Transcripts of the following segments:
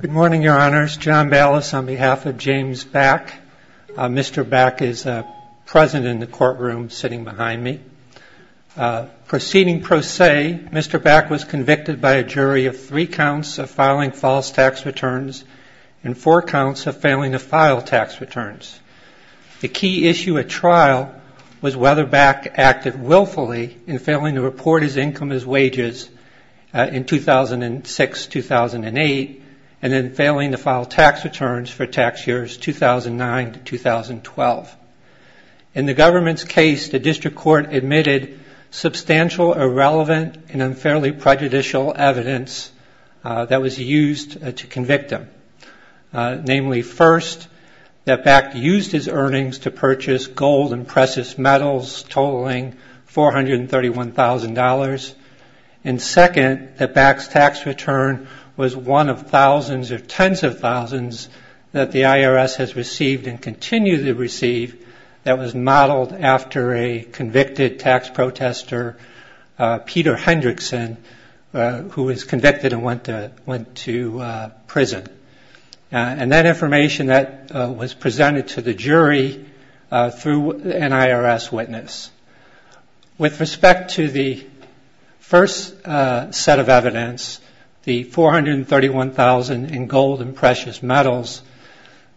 Good morning, your honors. John Ballas on behalf of James Back. Mr. Back is present in the courtroom sitting behind me. Proceeding pro se, Mr. Back was convicted by a jury of three counts of filing false tax returns and four counts of failing to file tax returns. The key issue at trial was whether Back acted willfully in failing to report his income as wages in 2006-2008 and then failing to file tax returns for tax years 2009-2012. In the government's case, the district court admitted substantial, irrelevant, and unfairly prejudicial evidence that was used to convict him. Namely, first, that Back used his earnings to purchase gold and precious metals totaling $431,000. And second, that Back's tax return was one of thousands or tens of thousands that the IRS has received and continues to receive that was modeled after a convicted tax protester, Peter Hendrickson, who was convicted and went to prison. And that information, that was presented to the jury through an IRS witness. With respect to the first set of evidence, the $431,000 in gold and precious metals,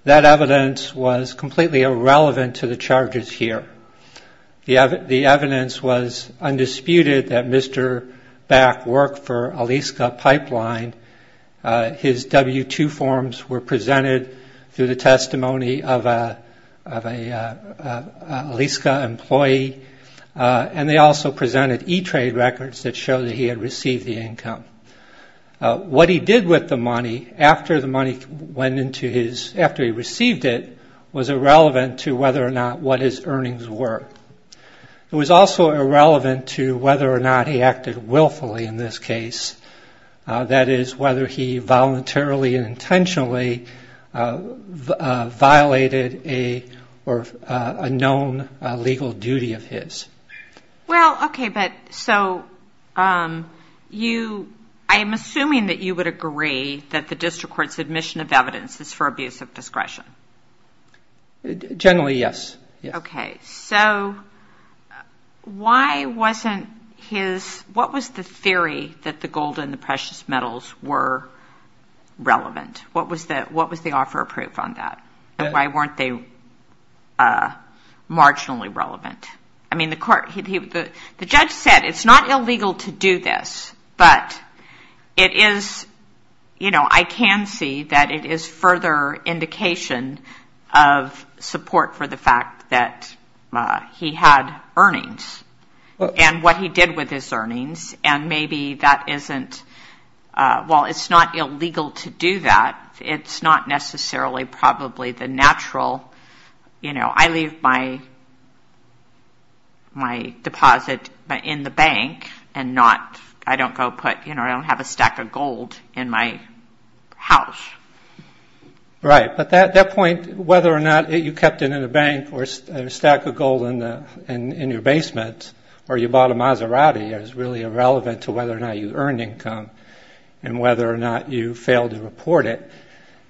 that evidence was completely irrelevant to the charges here. The evidence was undisputed that Mr. Back worked for Alisca Pipeline. His W-2 forms were presented through the testimony of an Alisca employee. And they also presented E-Trade records that showed that he had received the income. What he did with the money after he received it was irrelevant to whether or not what his earnings were. It was also irrelevant to whether or not he acted willfully in this case. That is, whether he voluntarily and intentionally violated a known legal duty of his. Well, okay, but so you, I am assuming that you would agree that the district court's admission of evidence is for abuse of discretion. Generally, yes. Okay, so why wasn't his, what was the theory that the gold and the precious metals were relevant? What was the offer of proof on that and why weren't they marginally relevant? I mean, the court, the judge said it's not illegal to do this, but it is, you know, I can see that it is further indication of support for the fact that he had earnings and what he did with his earnings. And maybe that isn't, well, it's not illegal to do that, it's not necessarily probably the natural, you know, I leave my deposit in the bank and not, I don't go put, you know, I don't have a stack of gold in my house. Right, but that point, whether or not you kept it in a bank or a stack of gold in your basement, or you bought a Maserati is really irrelevant to whether or not you earned income and whether or not you failed to report it.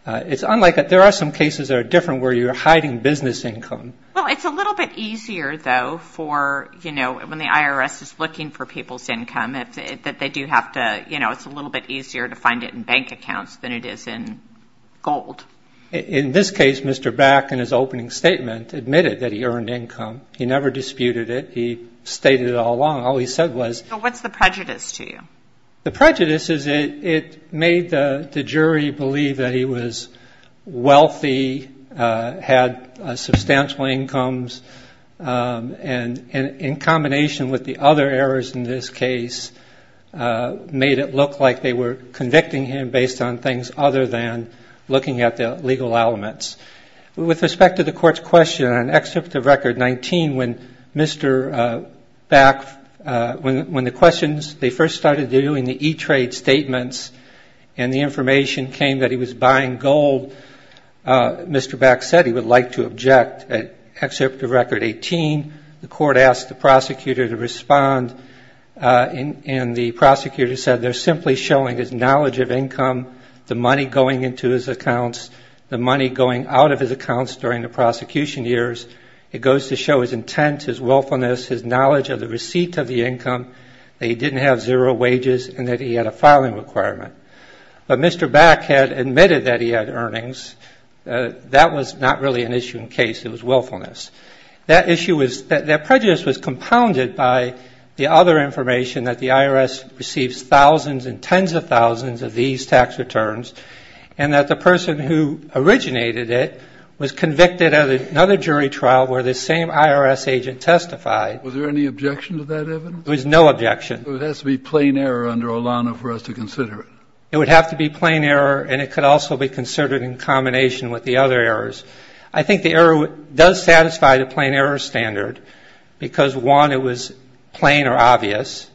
It's unlike, there are some cases that are different where you're hiding business income. Well, it's a little bit easier, though, for, you know, when the IRS is looking for people's income, that they do have to, you know, it's a little bit easier to find it in bank accounts than it is in gold. In this case, Mr. Back, in his opening statement, admitted that he earned income. He never disputed it. He stated it all along. All he said was... So what's the prejudice to you? The prejudice is it made the jury believe that he was wealthy, had substantial incomes, and in combination with the other errors in this case, made it look like they were convicting him based on things other than looking at the legal elements. With respect to the Court's question on Excerpt of Record 19, when Mr. Back, when the questions, they first started doing the e-trade statements, and the information came that he was buying gold, Mr. Back said he would like to object at Excerpt of Record 19. In Excerpt of Record 18, the Court asked the prosecutor to respond, and the prosecutor said they're simply showing his knowledge of income, the money going into his accounts, the money going out of his accounts during the prosecution years. It goes to show his intent, his willfulness, his knowledge of the receipt of the income, that he didn't have zero wages, and that he had a filing requirement. But Mr. Back had admitted that he had earnings. That was not really an issue in the case. It was willfulness. That issue was, that prejudice was compounded by the other information, that the IRS receives thousands and tens of thousands of these tax returns, and that the person who originated it was convicted at another jury trial where the same IRS agent testified. Was there any objection to that evidence? There was no objection. So it has to be plain error under Olana for us to consider it. It would have to be plain error, and it could also be considered in combination with the other errors. I think the error does satisfy the plain error standard, because, one, it was plain or obvious,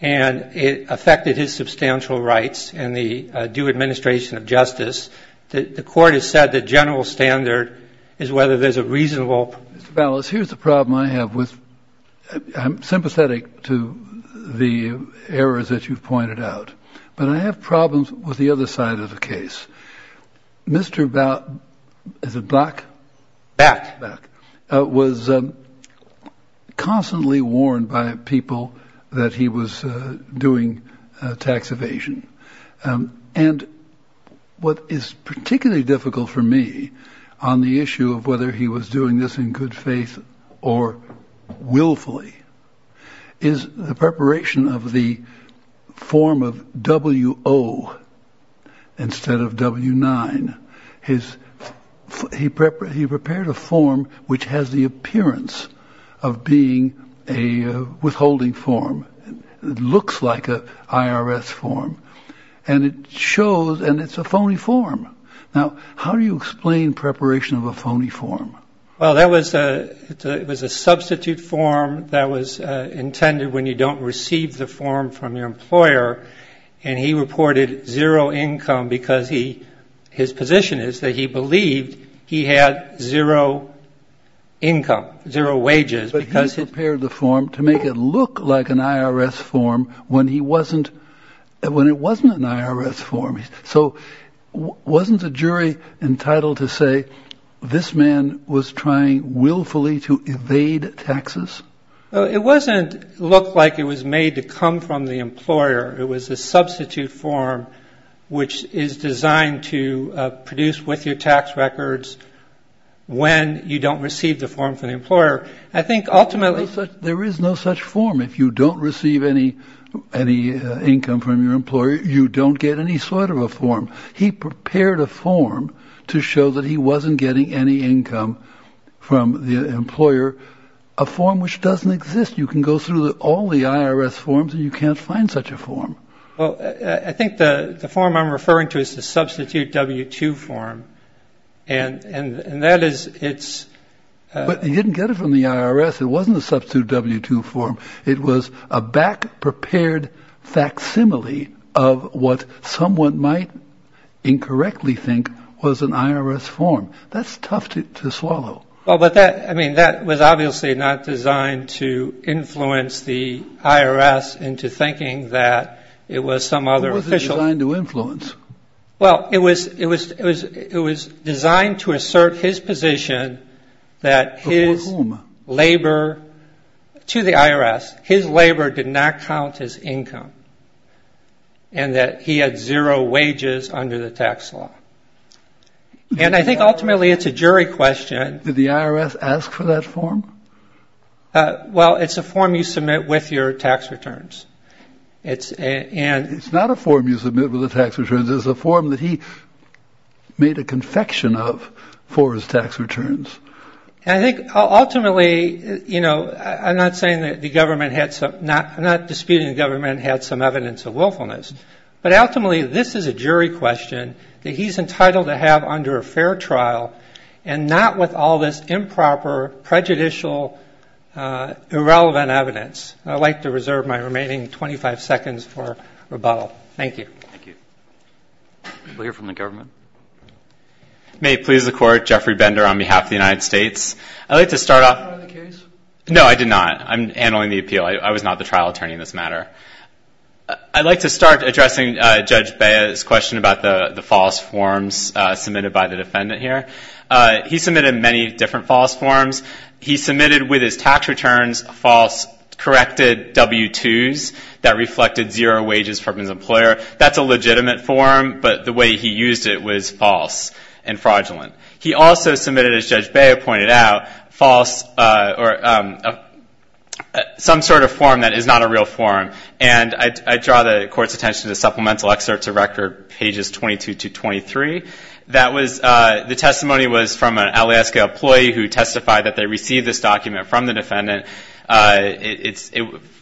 and it affected his substantial rights and the due administration of justice. The Court has said the general standard is whether there's a reasonable ---- Mr. Ballas, here's the problem I have with ---- I'm sympathetic to the errors that you've pointed out, but I have problems with the other side of the case. Mr. Back was constantly warned by people that he was doing tax evasion, and what is particularly difficult for me on the issue of whether he was doing this in good faith or willfully is the preparation of the form of W-O instead of W-9. He prepared a form which has the appearance of being a withholding form. It looks like an IRS form, and it shows, and it's a phony form. Now, how do you explain preparation of a phony form? Well, that was a ---- it was a substitute form that was intended when you don't receive the form from your employer, and he reported zero income because he ---- his position is that he believed he had zero income, zero wages, because he ---- But he prepared the form to make it look like an IRS form when he wasn't ---- when it wasn't an IRS form. So wasn't the jury entitled to say this man was trying willfully to evade taxes? It wasn't look like it was made to come from the employer. It was a substitute form which is designed to produce with your tax records when you don't receive the form from the employer. I think ultimately ---- If you don't receive any income from your employer, you don't get any sort of a form. He prepared a form to show that he wasn't getting any income from the employer, a form which doesn't exist. You can go through all the IRS forms, and you can't find such a form. Well, I think the form I'm referring to is the substitute W-2 form, and that is it's ---- But he didn't get it from the IRS. It wasn't a substitute W-2 form. It was a back-prepared facsimile of what someone might incorrectly think was an IRS form. That's tough to swallow. Well, but that ---- I mean, that was obviously not designed to influence the IRS into thinking that it was some other official ---- It wasn't designed to influence. Well, it was designed to assert his position that his labor to the IRS, his labor did not count as income, and that he had zero wages under the tax law. And I think ultimately it's a jury question ---- Did the IRS ask for that form? Well, it's a form you submit with your tax returns. It's not a form you submit with the tax returns. It's a form that he made a confection of for his tax returns. And I think ultimately, you know, I'm not saying that the government had some ---- I'm not disputing the government had some evidence of willfulness, but ultimately this is a jury question that he's entitled to have under a fair trial, and not with all this improper, prejudicial, irrelevant evidence. I'd like to reserve my remaining 25 seconds for rebuttal. Thank you. May it please the Court, Jeffrey Bender on behalf of the United States. No, I did not. I'm handling the appeal. I was not the trial attorney in this matter. I'd like to start addressing Judge Bea's question about the false forms submitted by the defendant here. He submitted many different false forms. He submitted with his tax returns false corrected W-2s that reflected zero wages from his employer. That's a legitimate form, but the way he used it was false and fraudulent. He also submitted, as Judge Bea pointed out, false or some sort of form that is not a real form. And I draw the Court's attention to supplemental excerpts of record pages 22 to 23. That was ---- the testimony was from an Alaska employee who testified that they received this document from the defendant.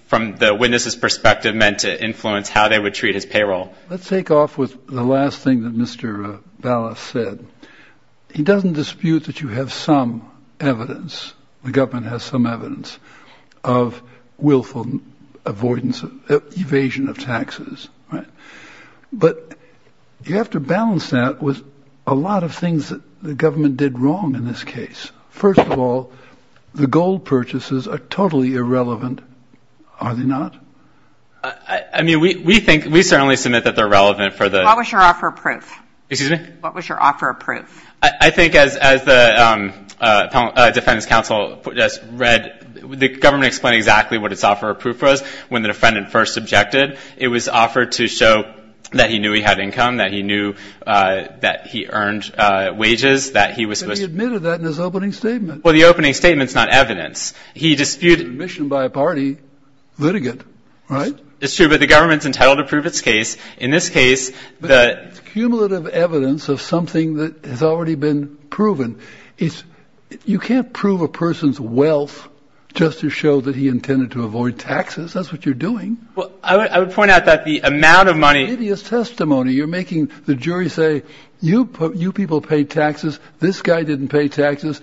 From the witness's perspective, meant to influence how they would treat his payroll. Let's take off with the last thing that Mr. Ballas said. He doesn't dispute that you have some evidence, the government has some evidence, of willful avoidance, evasion of taxes. But you have to balance that with a lot of things that the government did wrong in this case. First of all, the gold purchases are totally irrelevant, are they not? I mean, we think, we certainly submit that they're relevant for the ---- What was your offer of proof? Excuse me? What was your offer of proof? I think as the Defendant's Counsel has read, the government explained exactly what its offer of proof was when the defendant first objected. It was offered to show that he knew he had income, that he knew that he earned wages, that he was supposed to ---- But he admitted that in his opening statement. Well, the opening statement's not evidence. He disputed ---- Admission by a party, litigant, right? It's true, but the government's entitled to prove its case. In this case, the ---- But it's cumulative evidence of something that has already been proven. You can't prove a person's wealth just to show that he intended to avoid taxes. That's what you're doing. Well, I would point out that the amount of money ----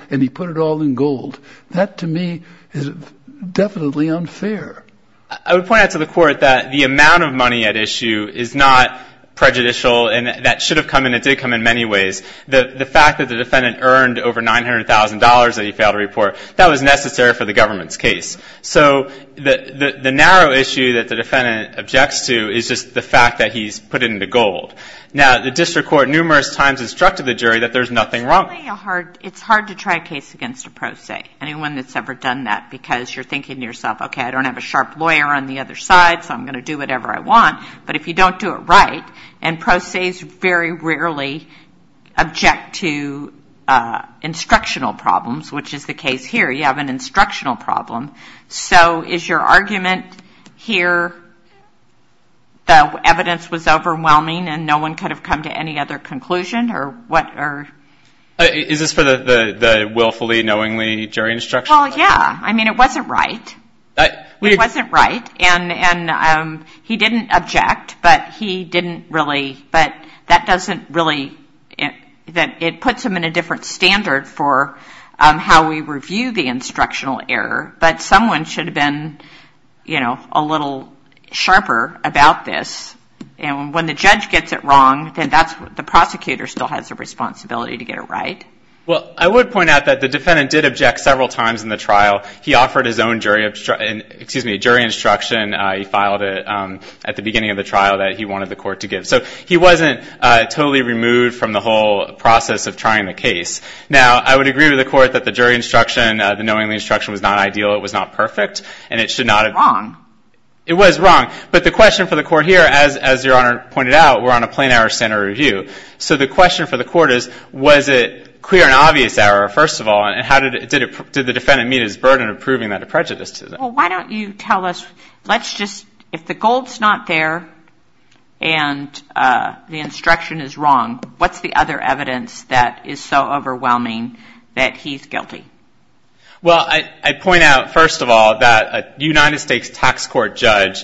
and he put it all in gold. That, to me, is definitely unfair. I would point out to the Court that the amount of money at issue is not prejudicial, and that should have come and it did come in many ways. The fact that the defendant earned over $900,000 that he failed to report, that was necessary for the government's case. So the narrow issue that the defendant objects to is just the fact that he's put it into gold. Now, the district court numerous times instructed the jury that there's nothing wrong ---- It's hard to try a case against a pro se, anyone that's ever done that, because you're thinking to yourself, okay, I don't have a sharp lawyer on the other side, so I'm going to do whatever I want. But if you don't do it right, and pro ses very rarely object to instructional problems, which is the case here. You have an instructional problem. So is your argument here the evidence was overwhelming and no one could have come to any other conclusion? Is this for the willfully, knowingly jury instruction? Well, yeah. I mean, it wasn't right. It wasn't right. And he didn't object, but he didn't really ---- But that doesn't really ---- It puts him in a different standard for how we review the instructional error. But someone should have been a little sharper about this. And when the judge gets it wrong, then the prosecutor still has a responsibility to get it right. Well, I would point out that the defendant did object several times in the trial. He offered his own jury instruction. He filed it at the beginning of the trial that he wanted the court to give. So he wasn't totally removed from the whole process of trying the case. Now, I would agree with the court that the jury instruction, the knowingly instruction, was not ideal. It was not perfect, and it should not have ---- It was wrong. It was wrong. But the question for the court here, as Your Honor pointed out, we're on a plain error standard review. So the question for the court is, was it clear and obvious error, first of all, and how did the defendant meet his burden of proving that a prejudice to them? Well, why don't you tell us, let's just ---- If the gold's not there and the instruction is wrong, what's the other evidence that is so overwhelming that he's guilty? Well, I'd point out, first of all, that a United States tax court judge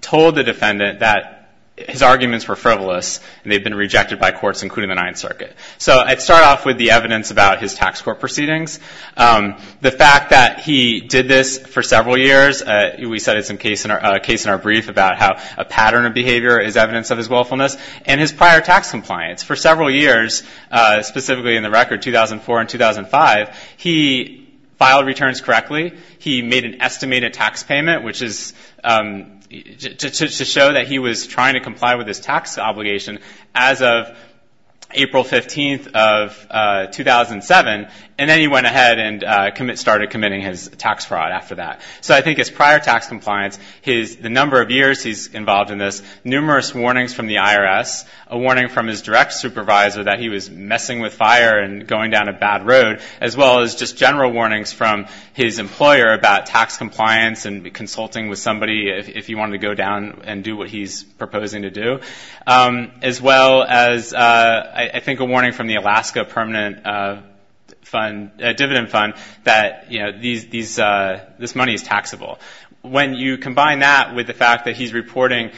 told the defendant that his arguments were frivolous and they've been rejected by courts, including the Ninth Circuit. So I'd start off with the evidence about his tax court proceedings, the fact that he did this for several years. We said it's a case in our brief about how a pattern of behavior is evidence of his willfulness, and his prior tax compliance for several years, specifically in the record 2004 and 2005. He filed returns correctly. He made an estimated tax payment, which is to show that he was trying to comply with his tax obligation as of April 15th of 2007. And then he went ahead and started committing his tax fraud after that. So I think his prior tax compliance, the number of years he's involved in this, numerous warnings from the IRS, a warning from his direct supervisor that he was messing with fire and going down a bad road, as well as just general warnings from his employer about tax compliance and consulting with somebody if he wanted to go down and do what he's proposing to do, as well as, I think, a warning from the Alaska Permanent Dividend Fund that this money is taxable. When you combine that with the fact that he's reporting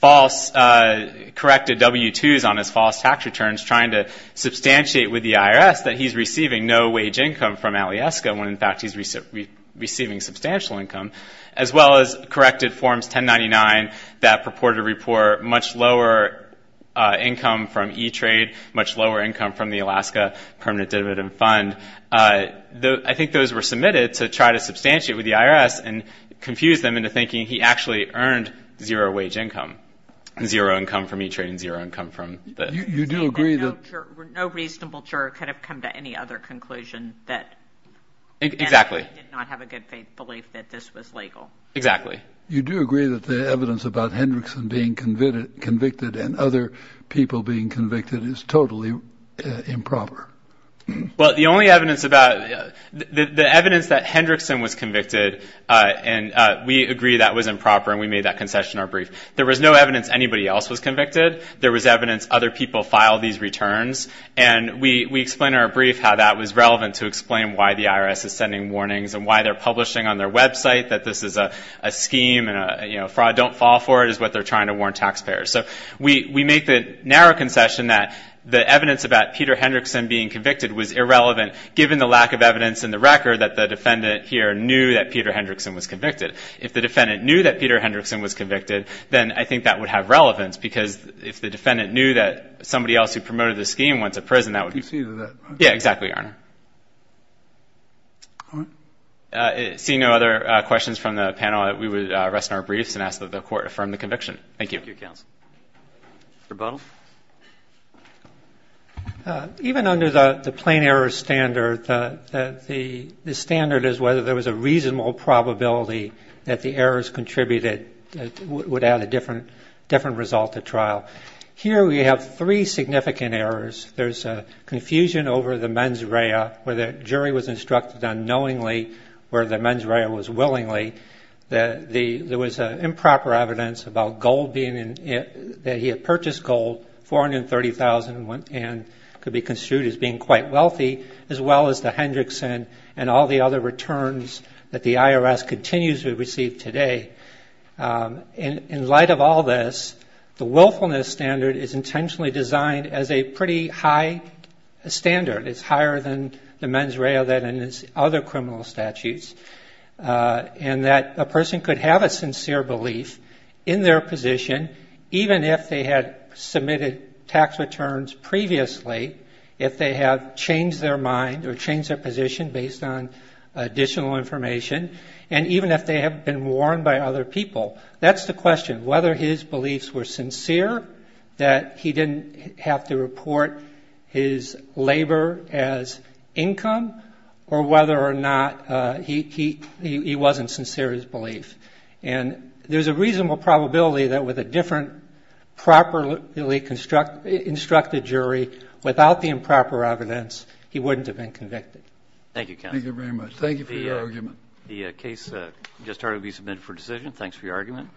false corrected W-2s on his false tax returns, trying to substantiate with the IRS that he's receiving no wage income from Alieska when, in fact, he's receiving substantial income, as well as corrected Forms 1099 that purported to report much lower income from E-Trade, much lower income from the Alaska Permanent Dividend Fund, I think those were submitted to try to substantiate with the IRS and confuse them into thinking he actually earned zero wage income, zero income from E-Trade and zero income from the Alaska Permanent Dividend Fund. You do agree that — No reasonable juror could have come to any other conclusion that — Exactly. — did not have a good faith belief that this was legal. Exactly. You do agree that the evidence about Hendrickson being convicted and other people being convicted is totally improper. Well, the only evidence about — the evidence that Hendrickson was convicted, and we agree that was improper, and we made that concession in our brief. There was no evidence anybody else was convicted. There was evidence other people filed these returns, and we explain in our brief how that was relevant to explain why the IRS is sending warnings and why they're publishing on their website that this is a scheme and, you know, fraud, don't fall for it, is what they're trying to warn taxpayers. So we make the narrow concession that the evidence about Peter Hendrickson being convicted was irrelevant, given the lack of evidence in the record that the defendant here knew that Peter Hendrickson was convicted. If the defendant knew that Peter Hendrickson was convicted, then I think that would have relevance because if the defendant knew that somebody else who promoted this scheme went to prison, that would be — Conceded that, right? Yeah, exactly, Your Honor. All right. Seeing no other questions from the panel, we would rest in our briefs and ask that the Court affirm the conviction. Thank you. Thank you, counsel. Mr. Butler? Even under the plain error standard, the standard is whether there was a reasonable probability that the errors contributed would add a different result to trial. Here we have three significant errors. There's confusion over the mens rea, where the jury was instructed unknowingly, where the mens rea was willingly. There was improper evidence about gold being — that he had purchased gold, $430,000 and could be construed as being quite wealthy, as well as the Hendrickson and all the other returns that the IRS continues to receive today. In light of all this, the willfulness standard is intentionally designed as a pretty high standard. It's higher than the mens rea than in other criminal statutes, and that a person could have a sincere belief in their position, even if they had submitted tax returns previously, if they have changed their mind or changed their position based on additional information, and even if they have been warned by other people. That's the question. Whether his beliefs were sincere, that he didn't have to report his labor as income, or whether or not he wasn't sincere in his belief. And there's a reasonable probability that with a different properly instructed jury, without the improper evidence, he wouldn't have been convicted. Thank you, counsel. Thank you very much. Thank you for your argument. The case just heard will be submitted for decision. Thanks for your argument.